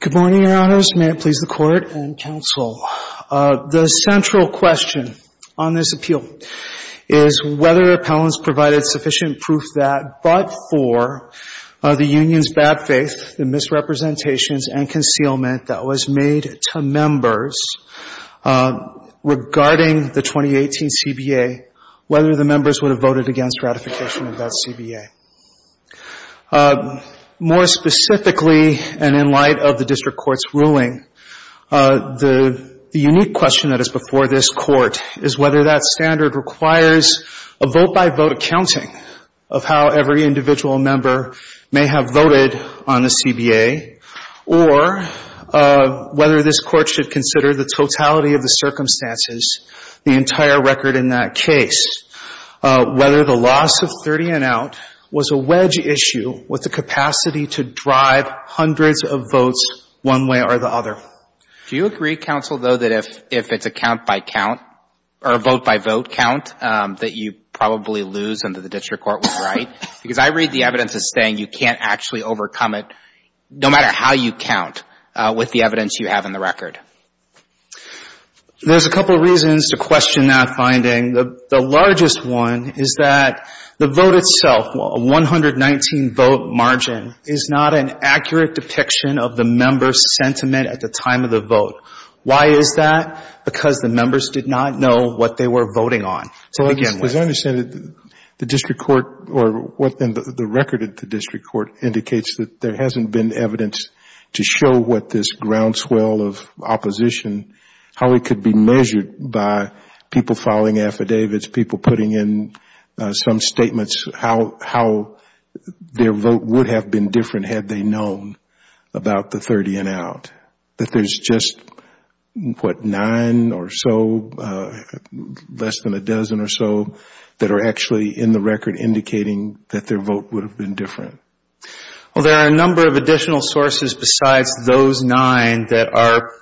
Good morning, Your Honors. May it please the Court and Counsel, the central question on this appeal is whether appellants provided sufficient proof that but for the union's bad faith, the misrepresentations, and concealment that was made to members regarding the 2018 CBA, whether the members would have voted against ratification of that CBA. More specifically, and in light of the District Court's ruling, the unique question that is before this Court is whether that standard requires a vote-by-vote accounting of how every individual member may have voted on the CBA, or whether this Court should consider the totality of the circumstances, the entire record in that case, whether the loss of 30 and out was a wedge issue with the capacity to drive hundreds of votes one way or the other. Do you agree, Counsel, though, that if it's a count-by-count or a vote-by-vote count that you probably lose and that the District Court was right? Because I read the evidence as saying you can't actually overcome it, no matter how you count, with the evidence you have in the record. There's a couple of reasons to question that finding. The largest one is that the vote itself, a 119-vote margin, is not an accurate depiction of the members' sentiment at the time of the vote. Why is that? Because the members did not know what they were voting on to begin with. As I understand it, the record at the District Court indicates that there hasn't been evidence to show what this groundswell of opposition, how it could be measured by people filing affidavits, people putting in some statements, how their vote would have been different had they known about the 30 and out, that there's just, what, nine or so, less than a dozen or so, that are actually in the record indicating that their vote would have been different. Well, there are a number of additional sources besides those nine that are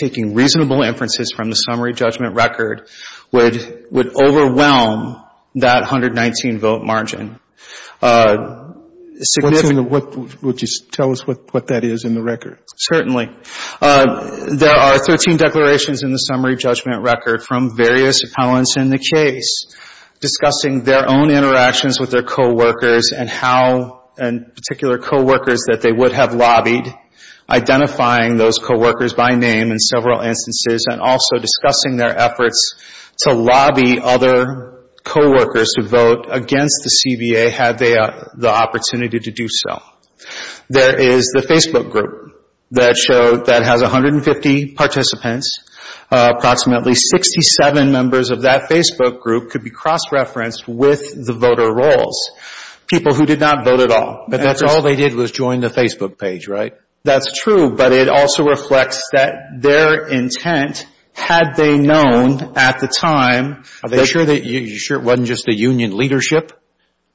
taking reasonable inferences from the summary judgment record would overwhelm that 119-vote margin. What's in the what, would you tell us what that is in the record? Certainly. There are 13 declarations in the summary judgment record from various appellants in the case discussing their own interactions with their coworkers and how, and particular coworkers that they would have lobbied, identifying those coworkers by name in several instances and also discussing their efforts to lobby other coworkers to vote against the CBA had they the opportunity to do so. There is the Facebook group that showed, that has 150 participants, approximately 67 members of that Facebook group could be cross-referenced with the voter rolls, people who did not vote at all. But that's all they did was join the Facebook page, right? That's true, but it also reflects that their intent, had they known at the time... Are you sure it wasn't just the union leadership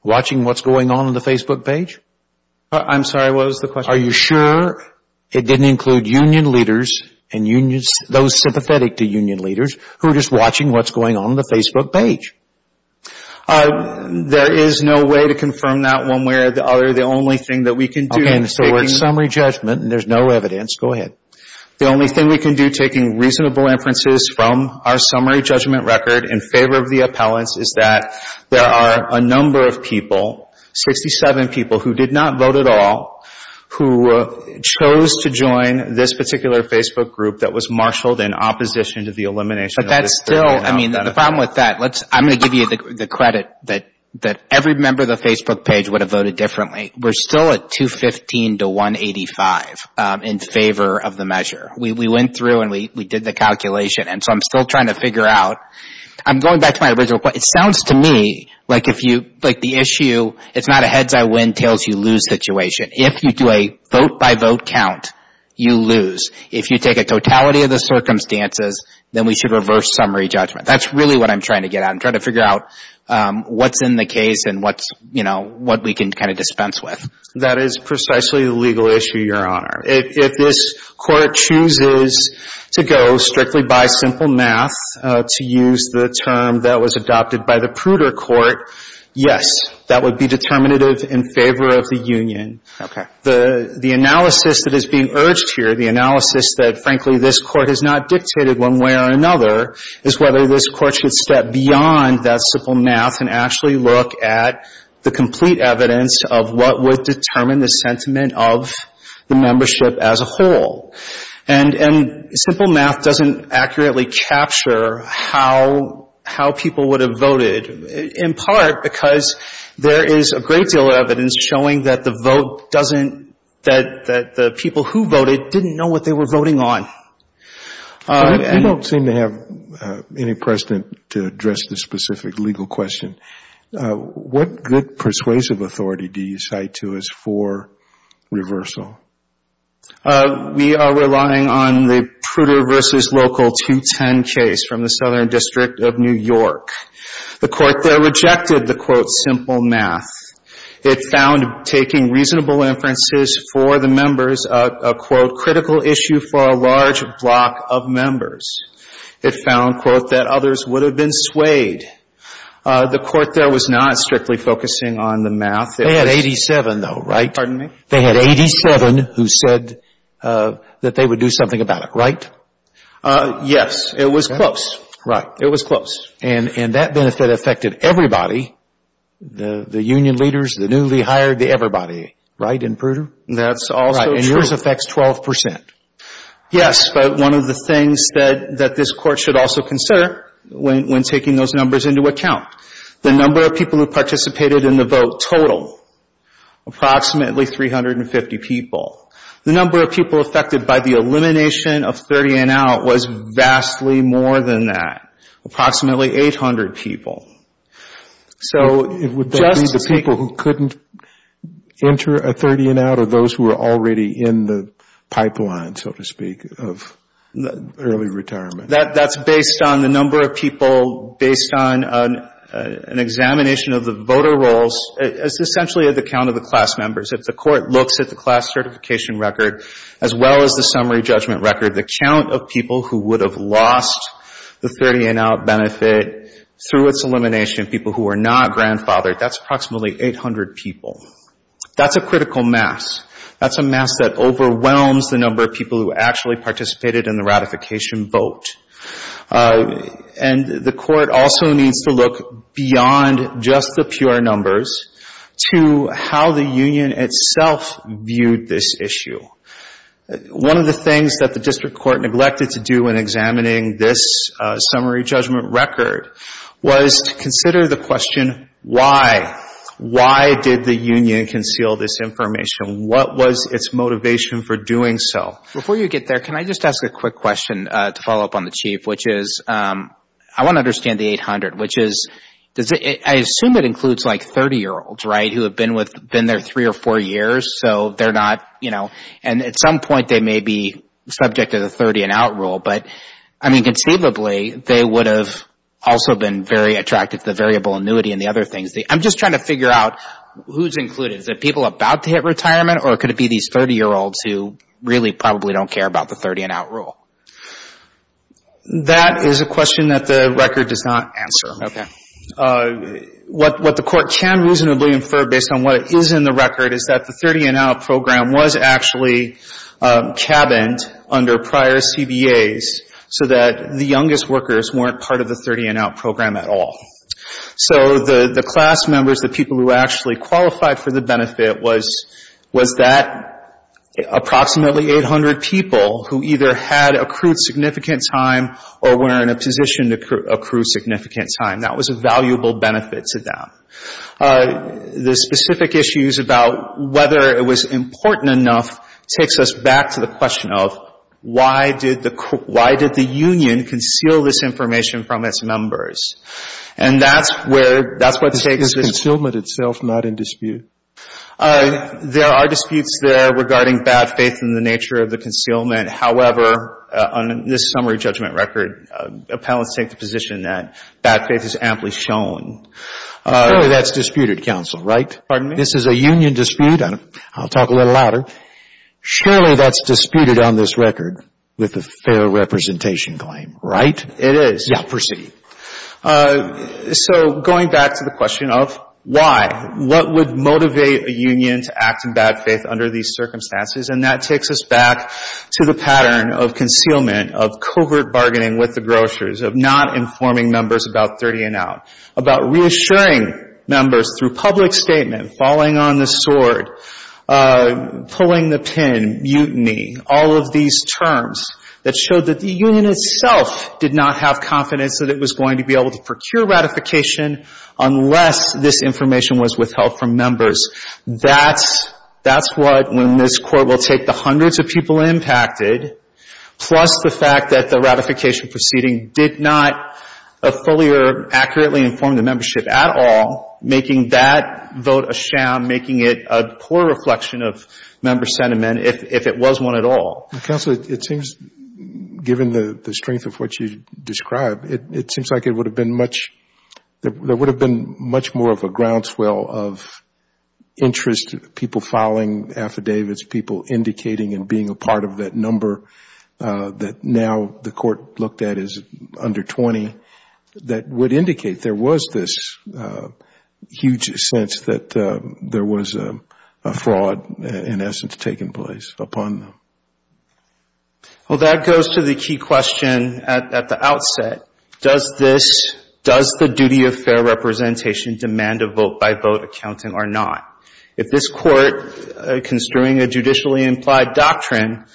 watching what's going on in the Facebook page? I'm sorry, what was the question? Are you sure it didn't include union leaders and those sympathetic to union leaders who are just watching what's going on in the Facebook page? There is no way to confirm that one way or the other. The only thing that we can do... Okay, so it's summary judgment and there's no evidence. Go ahead. The only thing we can do taking reasonable inferences from our summary judgment record in favor of the appellants is that there are a number of people, 67 people, who did not vote at all, who chose to join this particular Facebook group that was marshaled in opposition to the elimination of this 30 and up benefit. The problem with that, I'm going to give you the credit that every member of the Facebook page would have voted differently. We're still at 215 to 185 in favor of the measure. We went through and we did the calculation. I'm still trying to figure out... I'm going back to my original point. It sounds to me like the issue, it's not a heads I win, tails you lose situation. If you do a vote by vote count, you lose. If you take a totality of the circumstances, then we should reverse summary judgment. That's really what I'm trying to get at. I'm trying to figure out what's in the case and what we can dispense with. That is precisely the legal issue, Your Honor. If this Court chooses to go strictly by simple math to use the term that was adopted by the Pruder Court, yes, that would be determinative in favor of the union. Okay. The analysis that is being urged here, the analysis that, frankly, this Court has not dictated one way or another, is whether this Court should step beyond that simple math and actually look at the complete evidence of what would determine the sentiment of the membership as a whole. Simple math doesn't accurately capture how people would have voted, in part because there is a great deal of evidence showing that the vote doesn't... that the people who voted didn't know what they were voting on. I don't seem to have any precedent to address this specific legal question. What good persuasive authority do you cite to us for reversal? We are relying on the Pruder v. Local 210 case from the Southern District of New York. The Court there rejected the, quote, simple math. It found taking reasonable inferences for the members, a, quote, critical issue for a large block of members. It found, quote, that others would have been swayed. The Court there was not strictly focusing on the math. They had 87, though, right? Pardon me? They had 87 who said that they would do something about it, right? Yes. It was close. Right. It was close. And that benefit affected everybody, the union leaders, the newly hired, everybody. Right. And Pruder? That's also true. Right. And yours affects 12 percent. Yes. But one of the things that this Court should also consider when taking those numbers into account, the number of people who participated in the vote total, approximately 350 people. The number of people affected by the elimination of 30 and out was vastly more than that, approximately 800 people. So it would be the people who couldn't enter a 30 and out or those who were already in the pipeline, so to speak, of early retirement. That's based on the number of people, based on an examination of the voter rolls. It's essentially at the count of the class members. If the Court looks at the class certification record as well as the summary judgment record, the count of people who would have lost the elimination, people who were not grandfathered, that's approximately 800 people. That's a critical mass. That's a mass that overwhelms the number of people who actually participated in the ratification vote. And the Court also needs to look beyond just the pure numbers to how the union itself viewed this issue. One of the things that the District Court neglected to do in examining this summary judgment record was to consider the question, why? Why did the union conceal this information? What was its motivation for doing so? Before you get there, can I just ask a quick question to follow up on the Chief, which is I want to understand the 800, which is, I assume it includes like 30-year-olds, right, who have been there three or four years, so they're not, you know, and at some point they may be subject to the 30-and-out rule, but, I mean, conceivably, they would have also been very attracted to the variable annuity and the other things. I'm just trying to figure out who's included. Is it people about to hit retirement or could it be these 30-year-olds who really probably don't care about the 30-and-out rule? That is a question that the record does not answer. Okay. What the Court can reasonably infer based on what is in the record is that the 30-and-out program was actually cabined under prior CBAs so that the youngest workers weren't part of the 30-and-out program at all. So the class members, the people who actually qualified for the benefit was that approximately 800 people who either had accrued significant time or were in a position to accrue significant time. That was a valuable benefit to them. The specific issues about whether it was important enough takes us back to the question of why did the union conceal this information from its members? And that's where, that's what takes this. Is concealment itself not in dispute? There are disputes there regarding bad faith and the nature of the concealment. However, on this summary judgment record, appellants take the position that bad faith is amply shown. Surely that's disputed, counsel, right? Pardon me? This is a union dispute. I'll talk a little louder. Surely that's disputed on this record with a fair representation claim, right? It is. Yeah, proceed. So going back to the question of why, what would motivate a union to act in bad faith under these circumstances? And that takes us back to the pattern of concealment, of reassuring members through public statement, falling on the sword, pulling the pin, mutiny, all of these terms that showed that the union itself did not have confidence that it was going to be able to procure ratification unless this information was withheld from members. That's what, when this Court will take the hundreds of people impacted, plus the fact that the ratification proceeding did not fully or accurately inform the membership at all, making that vote a sham, making it a poor reflection of member sentiment if it was one at all. Counsel, it seems, given the strength of what you described, it seems like it would have been much, there would have been much more of a groundswell of interest, people filing affidavits, people indicating and being a part of that number that now the Court looked at as under 20, that would indicate there was this huge sense that there was a fraud, in essence, taking place upon them. Well, that goes to the key question at the outset. Does this, does the duty of fair representation demand a vote-by-vote accountant or not? If this Court, construing a judicially implied doctrine,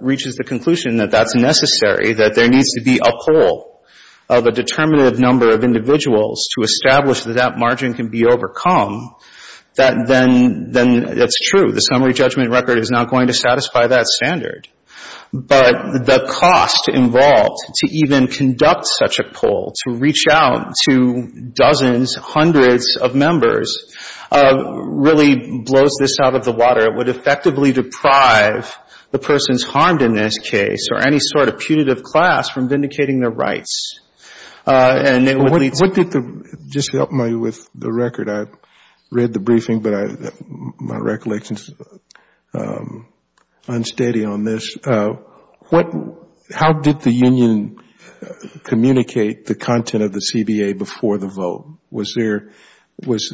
reaches the conclusion that that's necessary, that there needs to be a poll of a determinative number of individuals to establish that that margin can be overcome, that then, then it's true. The summary judgment record is not going to satisfy that standard. But the cost involved to even conduct such a poll, to reach out to dozens, hundreds of members, really blows this out of the water. It would effectively deprive the persons harmed in this case or any sort of punitive class from vindicating their rights. And what did the, just to help me with the record, I read the briefing, but my recollection is unsteady on this. What, how did the union communicate the content of the CBA before the vote? Was there, was,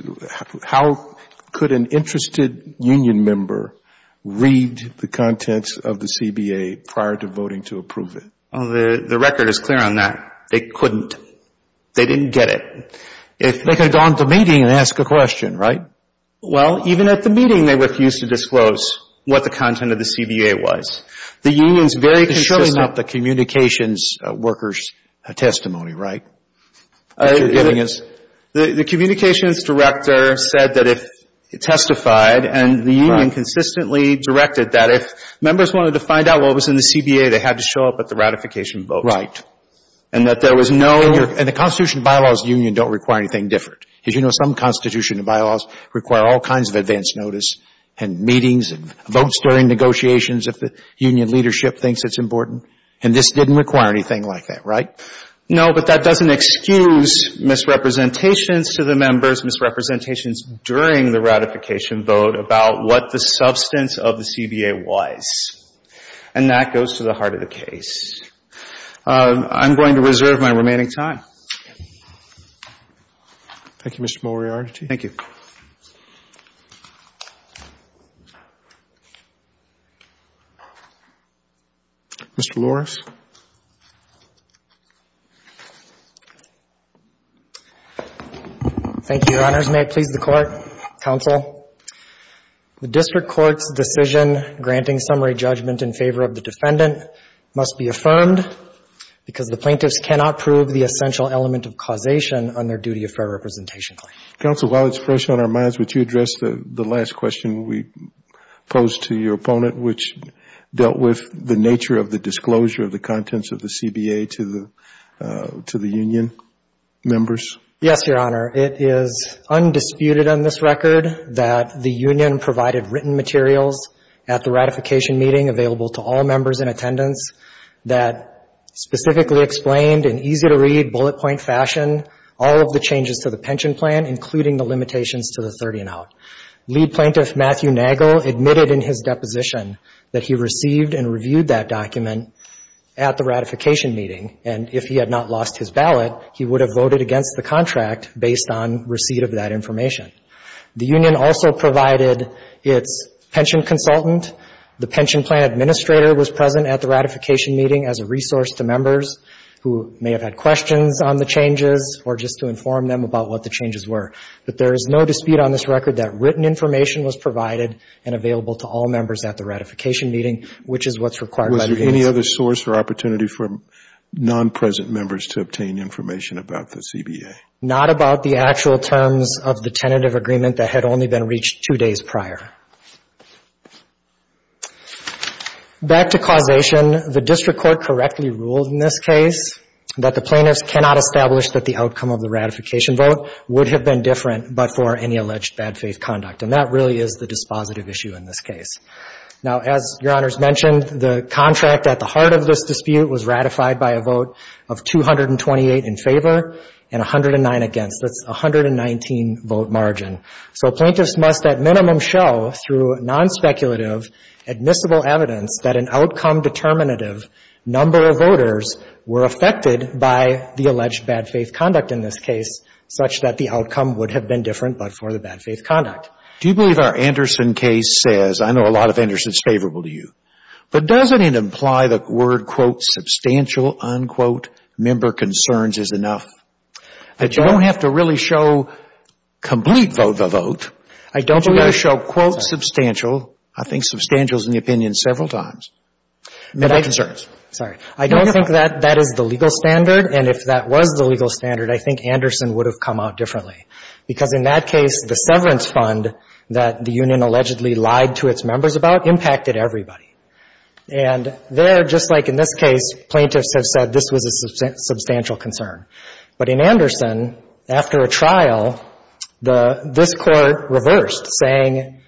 how could an interested union member read the contents of the CBA prior to voting to approve it? The record is clear on that. They couldn't. They didn't get it. If they could have gone to a meeting and asked a question, right? Well, even at the meeting, they refused to disclose what the content of the CBA was. The union's very consistent. It's showing up the communications workers' testimony, right? What you're getting is? The communications director said that if, testified, and the union consistently directed that if members wanted to find out what was in the CBA, they had to show up at the ratification vote. Right. And that there was no. And the Constitution and Bylaws of the union don't require anything different. As you know, some Constitution and Bylaws require all kinds of advance notice and meetings and votes during negotiations if the union leadership thinks it's important. And this didn't require anything like that, right? No, but that doesn't excuse misrepresentations to the members, misrepresentations during the ratification vote about what the substance of the CBA was. And that goes to the heart of the case. I'm going to reserve my remaining time. Thank you, Mr. Moriarty. Thank you. Mr. Louris. Thank you, Your Honors. May it please the Court, Counsel. The district court's decision granting summary judgment in favor of the defendant must be affirmed because the plaintiffs cannot prove the essential element of causation on their duty of fair representation claim. Counsel, while it's fresh on our minds, would you address the last question we posed to your opponent, which dealt with the nature of the disclosure of the contents of the CBA to the union members? Yes, Your Honor. It is undisputed on this record that the union provided written materials at the ratification meeting available to all members in attendance that specifically explained in easy-to-read, bullet-point fashion all of the changes to the pension plan, including the limitations to the 30 and out. Lead Plaintiff Matthew Nagel admitted in his deposition that he received and reviewed that document at the ratification meeting, and if he had not lost his ballot, he would have voted against the contract based on receipt of that information. The union also provided its pension consultant. The pension plan administrator was present at the ratification meeting as a resource to members who may have had questions on the changes or just to inform them about what the changes were. But there is no dispute on this record that written information was provided and available to all members at the ratification meeting, which is what's required by the agency. Was there any other source or opportunity for non-present members to obtain information about the CBA? Not about the actual terms of the tentative agreement that had only been reached two days prior. Back to causation, the district court correctly ruled in this case that the plaintiffs cannot establish that the outcome of the ratification vote would have been different but for any alleged bad faith conduct, and that really is the dispositive issue in this case. Now as Your Honors mentioned, the contract at the heart of this dispute was ratified by a vote of 228 in favor and 109 against. That's 119 vote margin. So plaintiffs must at minimum show through non-speculative admissible evidence that an outcome determinative number of voters were affected by the alleged bad faith conduct in this case such that the outcome would have been different but for the bad faith conduct. Do you believe our Anderson case says, I know a lot of Andersons favorable to you, but does that even imply the word, quote, substantial, unquote, member concerns is enough? That you don't have to really show complete vote-by-vote, but you've got to show, quote, substantial, I think substantial is in the opinion several times, member concerns. Sorry. I don't think that that is the legal standard, and if that was the legal standard, I think Anderson would have come out differently. Because in that case, the severance fund that the union allegedly lied to its members about impacted everybody. And there, just like in this case, plaintiffs have said this was a substantial concern. But in Anderson, after a trial, this Court reversed, saying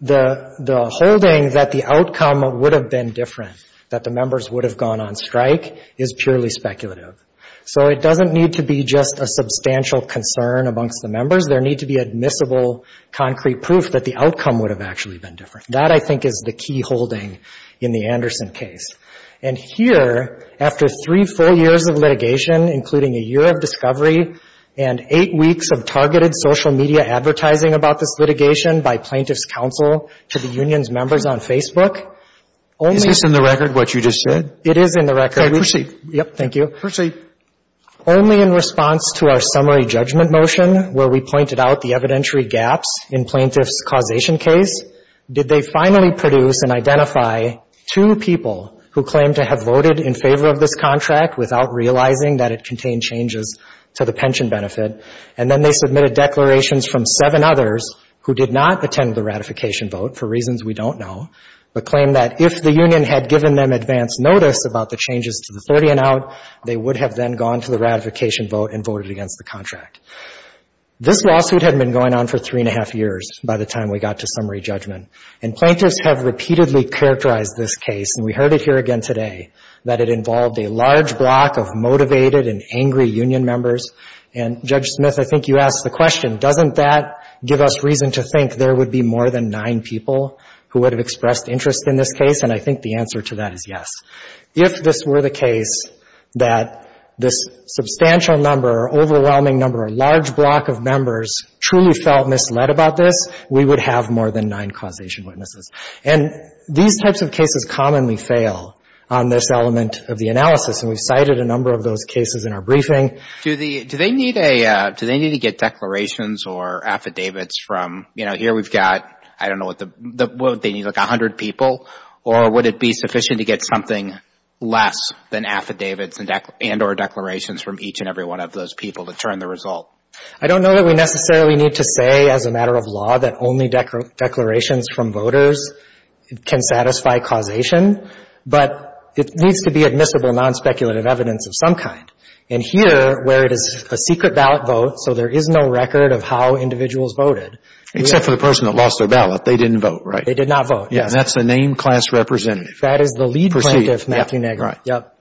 the holding that the outcome would have been different, that the members would have gone on strike, is purely speculative. So it doesn't need to be just a substantial concern amongst the members. There need to be admissible, concrete proof that the outcome would have actually been different. That I think is the key holding in the Anderson case. And here, after three full years of litigation, including a year of discovery and eight weeks of targeted social media advertising about this litigation by plaintiffs' counsel to the union's members on Facebook, only Is this in the record, what you just said? It is in the record. Okay. Proceed. Yep. Thank you. Proceed. Only in response to our summary judgment motion, where we pointed out the evidentiary gaps in plaintiff's causation case, did they finally produce and identify two people who claimed to have voted in favor of this contract without realizing that it contained changes to the pension benefit. And then they submitted declarations from seven others who did not attend the ratification vote, for reasons we don't know, but claimed that if the union had given them advance notice about the changes to the 30 and out, they would have then gone to the ratification vote and voted against the contract. This lawsuit had been going on for three and a half years by the time we got to summary judgment. And plaintiffs have repeatedly characterized this case, and we heard it here again today, that it involved a large block of motivated and angry union members. And Judge Smith, I think you asked the question, doesn't that give us reason to think there would be more than nine people who would have expressed interest in this case? And I think the answer to that is yes. If this were the case that this substantial number, overwhelming number, large block of members truly felt misled about this, we would have more than nine causation witnesses. And these types of cases commonly fail on this element of the analysis, and we've cited a number of those cases in our briefing. Do they need a, do they need to get declarations or affidavits from, you know, here we've got, I don't know what the, what would they need, like a hundred people? Or would it be sufficient to get something less than affidavits and or declarations from each and every one of those people to turn the result? I don't know that we necessarily need to say as a matter of law that only declarations from voters can satisfy causation, but it needs to be admissible, non-speculative evidence of some kind. And here, where it is a secret ballot vote, so there is no record of how individuals voted. Except for the person that lost their ballot. They didn't vote, right? They did not vote, yes. And that's the named class representative. That is the lead plaintiff, Matthew Nagle. Right. Yep.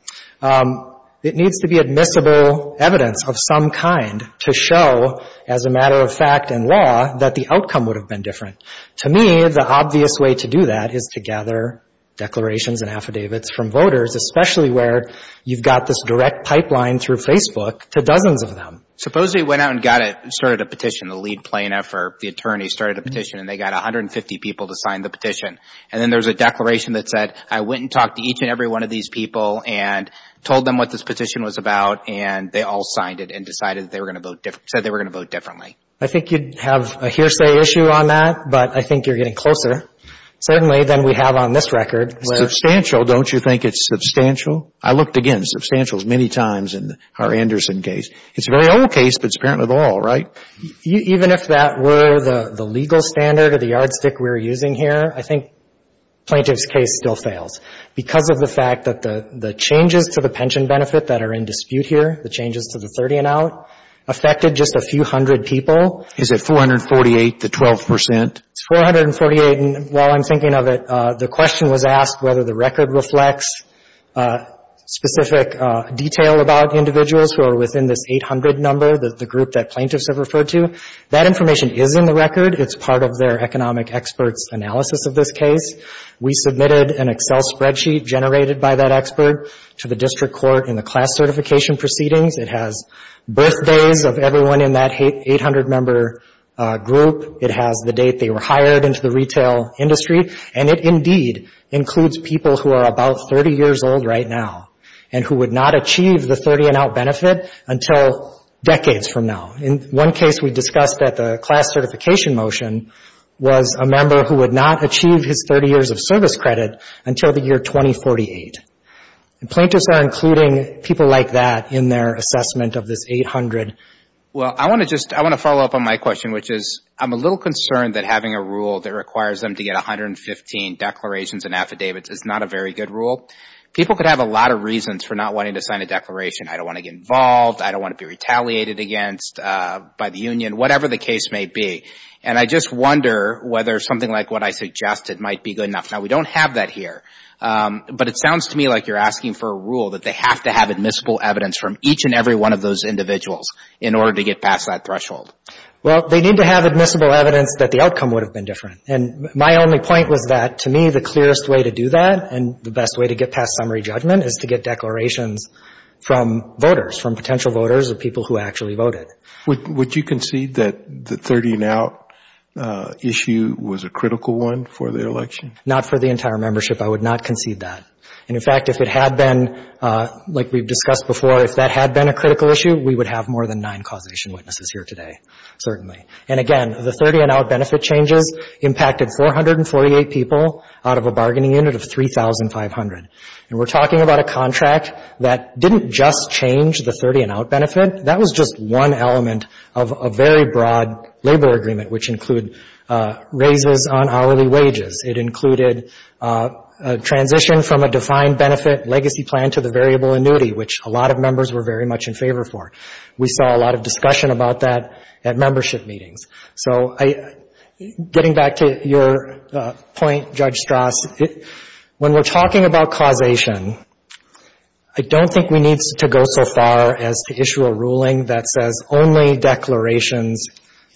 It needs to be admissible evidence of some kind to show as a matter of fact and law that the outcome would have been different. To me, the obvious way to do that is to gather declarations and affidavits from voters, especially where you've got this direct pipeline through Facebook to dozens of them. Supposedly, went out and got it, started a petition, the lead plaintiff or the attorney started a petition, and they got 150 people to sign the petition. And then there's a declaration that said, I went and talked to each and every one of these people and told them what this petition was about. And they all signed it and decided that they were going to vote, said they were going to vote differently. I think you'd have a hearsay issue on that, but I think you're getting closer, certainly, than we have on this record. Substantial, don't you think it's substantial? I looked again. Substantial is many times in our Anderson case. It's a very old case, but it's apparent in the law, right? Even if that were the legal standard or the yardstick we're using here, I think plaintiff's case still fails because of the fact that the changes to the pension benefit that are in dispute here, the changes to the 30 and out, affected just a few hundred people. Is it 448 to 12 percent? It's 448, and while I'm thinking of it, the question was asked whether the record reflects specific detail about individuals who are within this 800 number, the group that plaintiffs have referred to. That information is in the record. It's part of their economic experts analysis of this case. We submitted an Excel spreadsheet generated by that expert to the district court in the class certification proceedings. It has birthdays of everyone in that 800 member group. It has the date they were hired into the retail industry. And it indeed includes people who are about 30 years old right now and who would not achieve the 30 and out benefit until decades from now. In one case we discussed that the class certification motion was a member who would not achieve his 30 years of service credit until the year 2048. Plaintiffs are including people like that in their assessment of this 800. Well, I want to just, I want to follow up on my question, which is I'm a little concerned that having a rule that requires them to get 115 declarations and affidavits is not a very good rule. People could have a lot of reasons for not wanting to sign a declaration. I don't want to get involved. I don't want to be retaliated against by the union, whatever the case may be. And I just wonder whether something like what I suggested might be good enough. Now, we don't have that here, but it sounds to me like you're asking for a rule that they have to have admissible evidence from each and every one of those individuals in order to get past that threshold. Well, they need to have admissible evidence that the outcome would have been different. And my only point was that to me, the clearest way to do that and the best way to get past summary judgment is to get declarations from voters, from potential voters of people who actually voted. Would you concede that the 30 and out issue was a critical one for the election? Not for the entire membership. I would not concede that. And in fact, if it had been, like we've discussed before, if that had been a critical issue, we would have more than nine causation witnesses here today. Certainly. And again, the 30 and out benefit changes impacted 448 people out of a bargaining unit of 3,500. And we're talking about a contract that didn't just change the 30 and out benefit. That was just one element of a very broad labor agreement, which include raises on hourly wages. It included a transition from a defined benefit legacy plan to the variable annuity, which a lot of members were very much in favor for. We saw a lot of discussion about that at membership meetings. So I, getting back to your point, Judge Strauss, when we're talking about causation, I don't think we need to go so far as to issue a ruling that says only declarations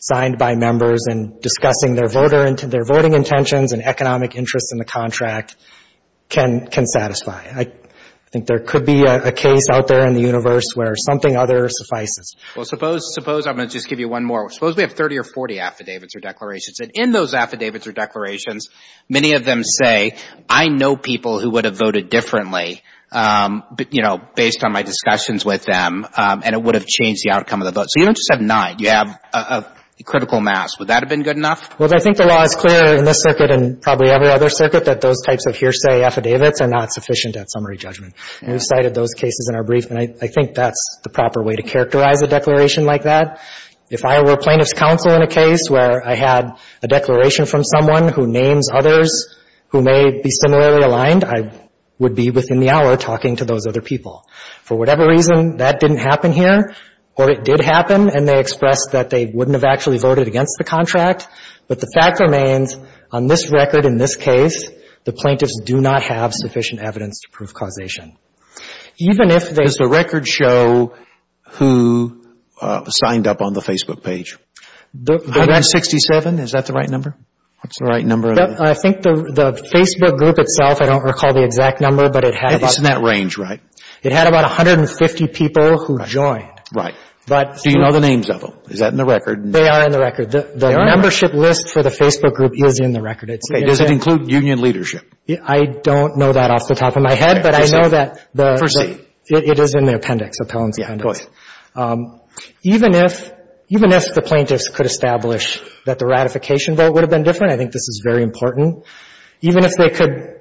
signed by members and discussing their voter, their voting intentions and economic interests in the contract can, can satisfy. I think there could be a case out there in the universe where something other suffices. Well, suppose, suppose, I'm going to just give you one more. Suppose we have 30 or 40 affidavits or declarations. And in those affidavits or declarations, many of them say, I know people who would have voted differently, you know, based on my discussions with them, and it would have changed the outcome of the vote. So you don't just have nine. You have a critical mass. Would that have been good enough? Well, I think the law is clear in this circuit and probably every other circuit that those types of hearsay affidavits are not sufficient at summary judgment. And we've cited those cases in our brief. And I, I think that's the proper way to characterize a declaration like that. If I were a plaintiff's counsel in a case where I had a declaration from someone who names others who may be similarly aligned, I would be within the hour talking to those other people. For whatever reason, that didn't happen here or it did happen. And they expressed that they wouldn't have actually voted against the contract. But the fact remains, on this record in this case, the plaintiffs do not have sufficient evidence to prove causation. Even if they Does the record show who signed up on the Facebook page? 167. Is that the right number? That's the right number. I think the, the Facebook group itself, I don't recall the exact number, but it had It's in that range, right? It had about 150 people who joined. Right. But Do you know the names of them? Is that in the record? They are in the record. The membership list for the Facebook group is in the record. It's Okay. Does it include union leadership? I don't know that off the top of my head, but I know that the First name? It is in the appendix, appellant's appendix. Yeah, go ahead. Even if, even if the plaintiffs could establish that the ratification vote would have been different, I think this is very important, even if they could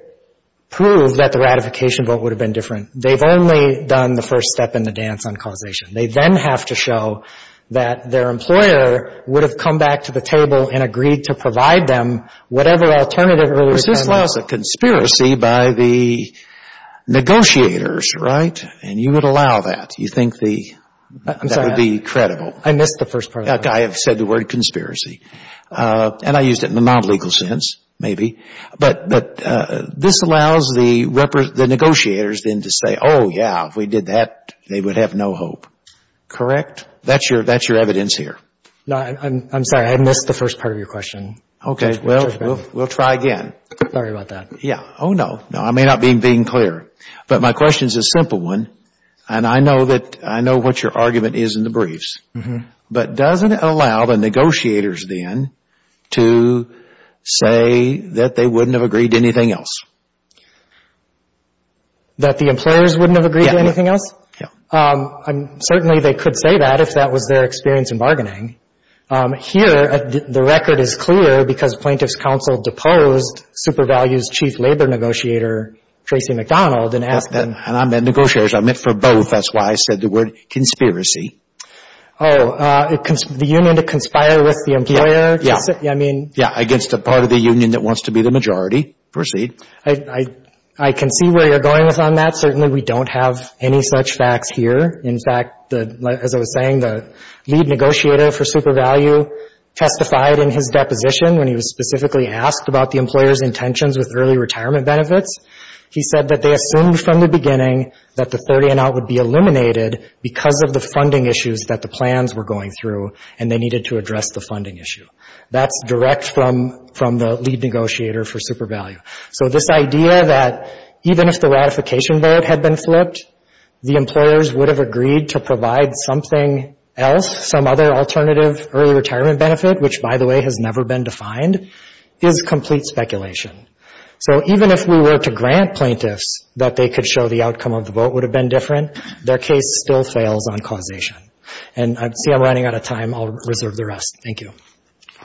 prove that the ratification vote would have been different, they've only done the first step in the dance on causation. They then have to show that their employer would have come back to the table and agreed to provide them whatever alternative really was. This allows a conspiracy by the negotiators, right? And you would allow that. You think the, that would be credible. I missed the first part. I have said the word conspiracy and I used it in the non-legal sense, maybe. But, but this allows the negotiators then to say, oh yeah, if we did that, they would have no hope. Correct? That's your, that's your evidence here. No, I'm sorry. I missed the first part of your question. Okay. Well, we'll try again. Sorry about that. Yeah. Oh no. No, I may not be being clear, but my question is a simple one. And I know that, I know what your argument is in the briefs, but doesn't it allow the negotiators then to say that they wouldn't have agreed to anything else? That the employers wouldn't have agreed to anything else? Yeah. Um, certainly they could say that if that was their experience in bargaining. Um, here, the record is clear because plaintiff's counsel deposed Super Values' chief labor negotiator, Tracy McDonald, and asked them. And I meant negotiators. I meant for both. That's why I said the word conspiracy. Oh, uh, the union to conspire with the employer. Yeah. I mean. Yeah. Against a part of the union that wants to be the majority. Proceed. I, I, I can see where you're going with on that. Certainly we don't have any such facts here. In fact, the, as I was saying, the lead negotiator for Super Value testified in his deposition when he was specifically asked about the employer's intentions with early retirement benefits, he said that they assumed from the beginning that the 30 and out would be eliminated because of the funding issues that the plans were going through and they needed to address the funding issue. That's direct from, from the lead negotiator for Super Value. So this idea that even if the ratification vote had been flipped, the employers would have agreed to provide something else, some other alternative early retirement benefit, which by the way, has never been defined, is complete speculation. So even if we were to grant plaintiffs that they could show the outcome of the vote would have been different, their case still fails on causation. And I see I'm running out of time. I'll reserve the rest. Thank you.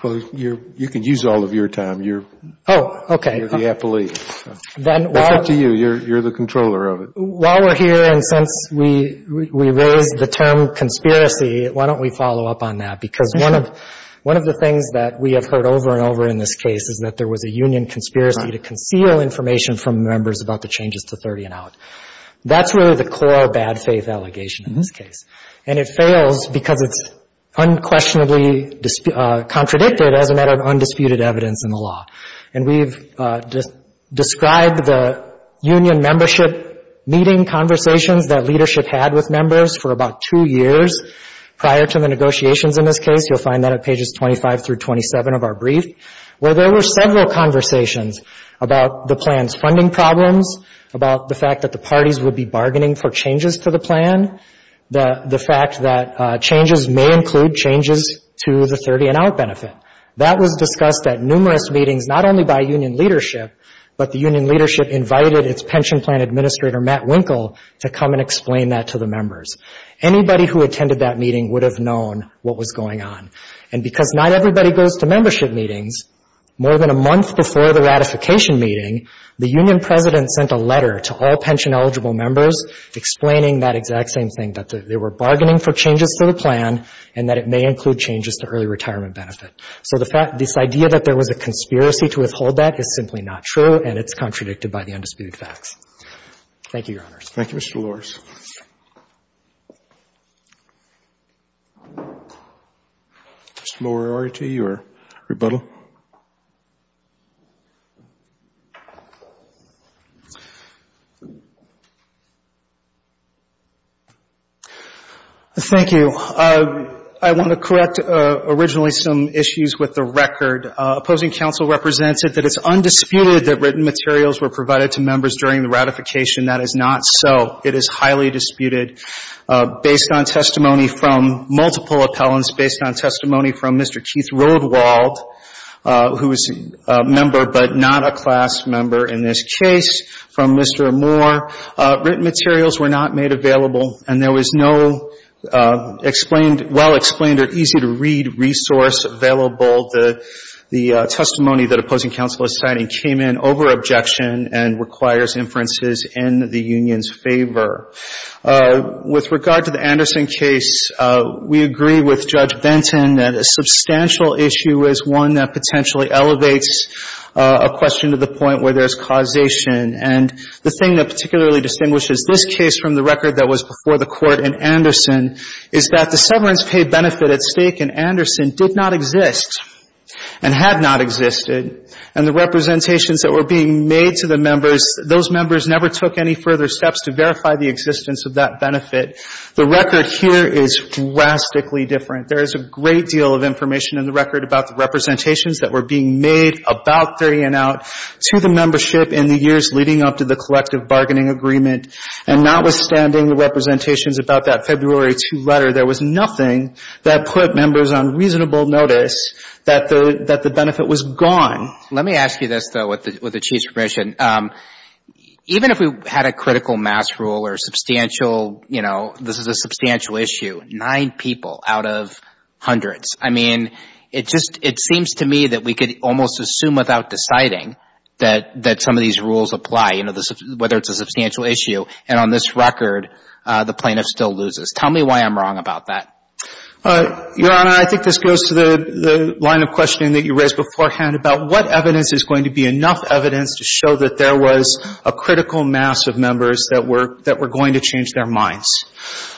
Well, you're, you can use all of your time. You're. Oh, okay. You're the appellee. Then it's up to you. You're, you're the controller of it. While we're here. And since we, we raised the term conspiracy, why don't we follow up on that? Because one of, one of the things that we have heard over and over in this case is that there was a union conspiracy to conceal information from members about the changes to 30 and out, that's really the core bad faith allegation in this case, and it fails because it's unquestionably contradicted as a matter of undisputed evidence in the law. And we've just described the union membership meeting conversations that leadership had with members for about two years prior to the negotiations in this case, you'll find that at pages 25 through 27 of our brief, where there were several conversations about the plan's funding problems, about the fact that the parties would be bargaining for changes to the plan, the fact that changes may include changes to the 30 and out benefit. That was discussed at numerous meetings, not only by union leadership, but the union leadership invited its pension plan administrator, Matt Winkle, to come and explain that to the members. Anybody who attended that meeting would have known what was going on. And because not everybody goes to membership meetings, more than a month before the ratification meeting, the union president sent a letter to all pension eligible members explaining that exact same thing, that they were bargaining for changes to the plan and that it may include changes to early retirement benefit. So the fact, this idea that there was a conspiracy to withhold that is simply not true, and it's contradicted by the undisputed facts. Thank you, Your Honors. Thank you, Mr. Lawrence. Mr. Moriarty, your rebuttal. Thank you. I want to correct originally some issues with the record. Opposing counsel represented that it's undisputed that written materials were provided to members during the ratification. That is not so. It is highly disputed. Based on testimony from multiple appellants, based on testimony from Mr. Keith Rodewald, who is a member, but not a class member in this case, from Mr. Moore, written materials were not made available and there was no explained, well-explained or easy to read resource available. The testimony that opposing counsel is citing came in over objection and requires inferences in the union's favor. With regard to the Anderson case, we agree with Judge Benton that a substantial issue is one that potentially elevates a question to the point where there's a causation, and the thing that particularly distinguishes this case from the record that was before the Court in Anderson is that the severance pay benefit at stake in Anderson did not exist and had not existed, and the representations that were being made to the members, those members never took any further steps to verify the existence of that benefit. The record here is drastically different. Let me ask you this, though, with the Chief's permission, even if we had a critical mass rule or substantial, you know, this is a substantial issue, nine people out of hundreds, I mean, it just, it seems to me that we could almost assume without deciding that some of these rules apply, you know, whether it's a substantial issue, and on this record, the plaintiff still loses. Tell me why I'm wrong about that. Your Honor, I think this goes to the line of questioning that you raised beforehand about what evidence is going to be enough evidence to show that there was a critical mass of members that were going to change their minds.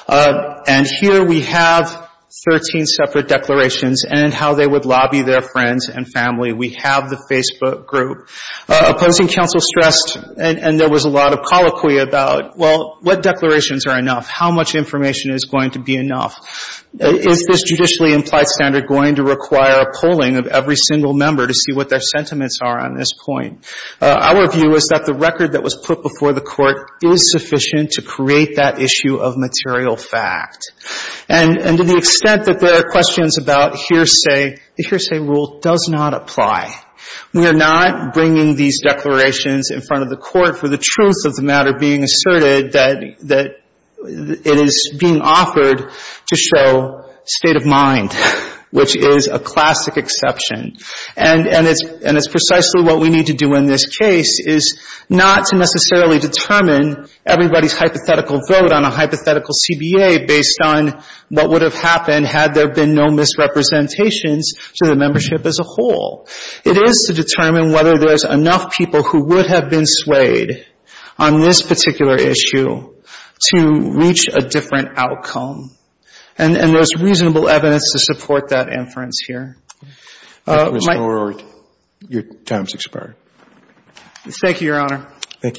And here we have 13 separate declarations and how they would lobby their friends and family. We have the Facebook group. Opposing counsel stressed, and there was a lot of colloquy about, well, what declarations are enough? How much information is going to be enough? Is this judicially implied standard going to require a polling of every single member to see what their sentiments are on this point? Our view is that the record that was put before the Court is sufficient to create that issue of material fact. And to the extent that there are questions about hearsay, the hearsay rule does not apply. We are not bringing these declarations in front of the Court for the truth of the matter being asserted that it is being offered to show state of mind, which is a classic exception. And it's precisely what we need to do in this case is not to necessarily determine everybody's hypothetical vote on a hypothetical CBA based on what would have happened had there been no misrepresentations to the membership as a whole. It is to determine whether there's enough people who would have been swayed on this particular issue to reach a different outcome. And there's reasonable evidence to support that inference here. My ---- Roberts. Thank you, Your Honor. Thank you, counsel.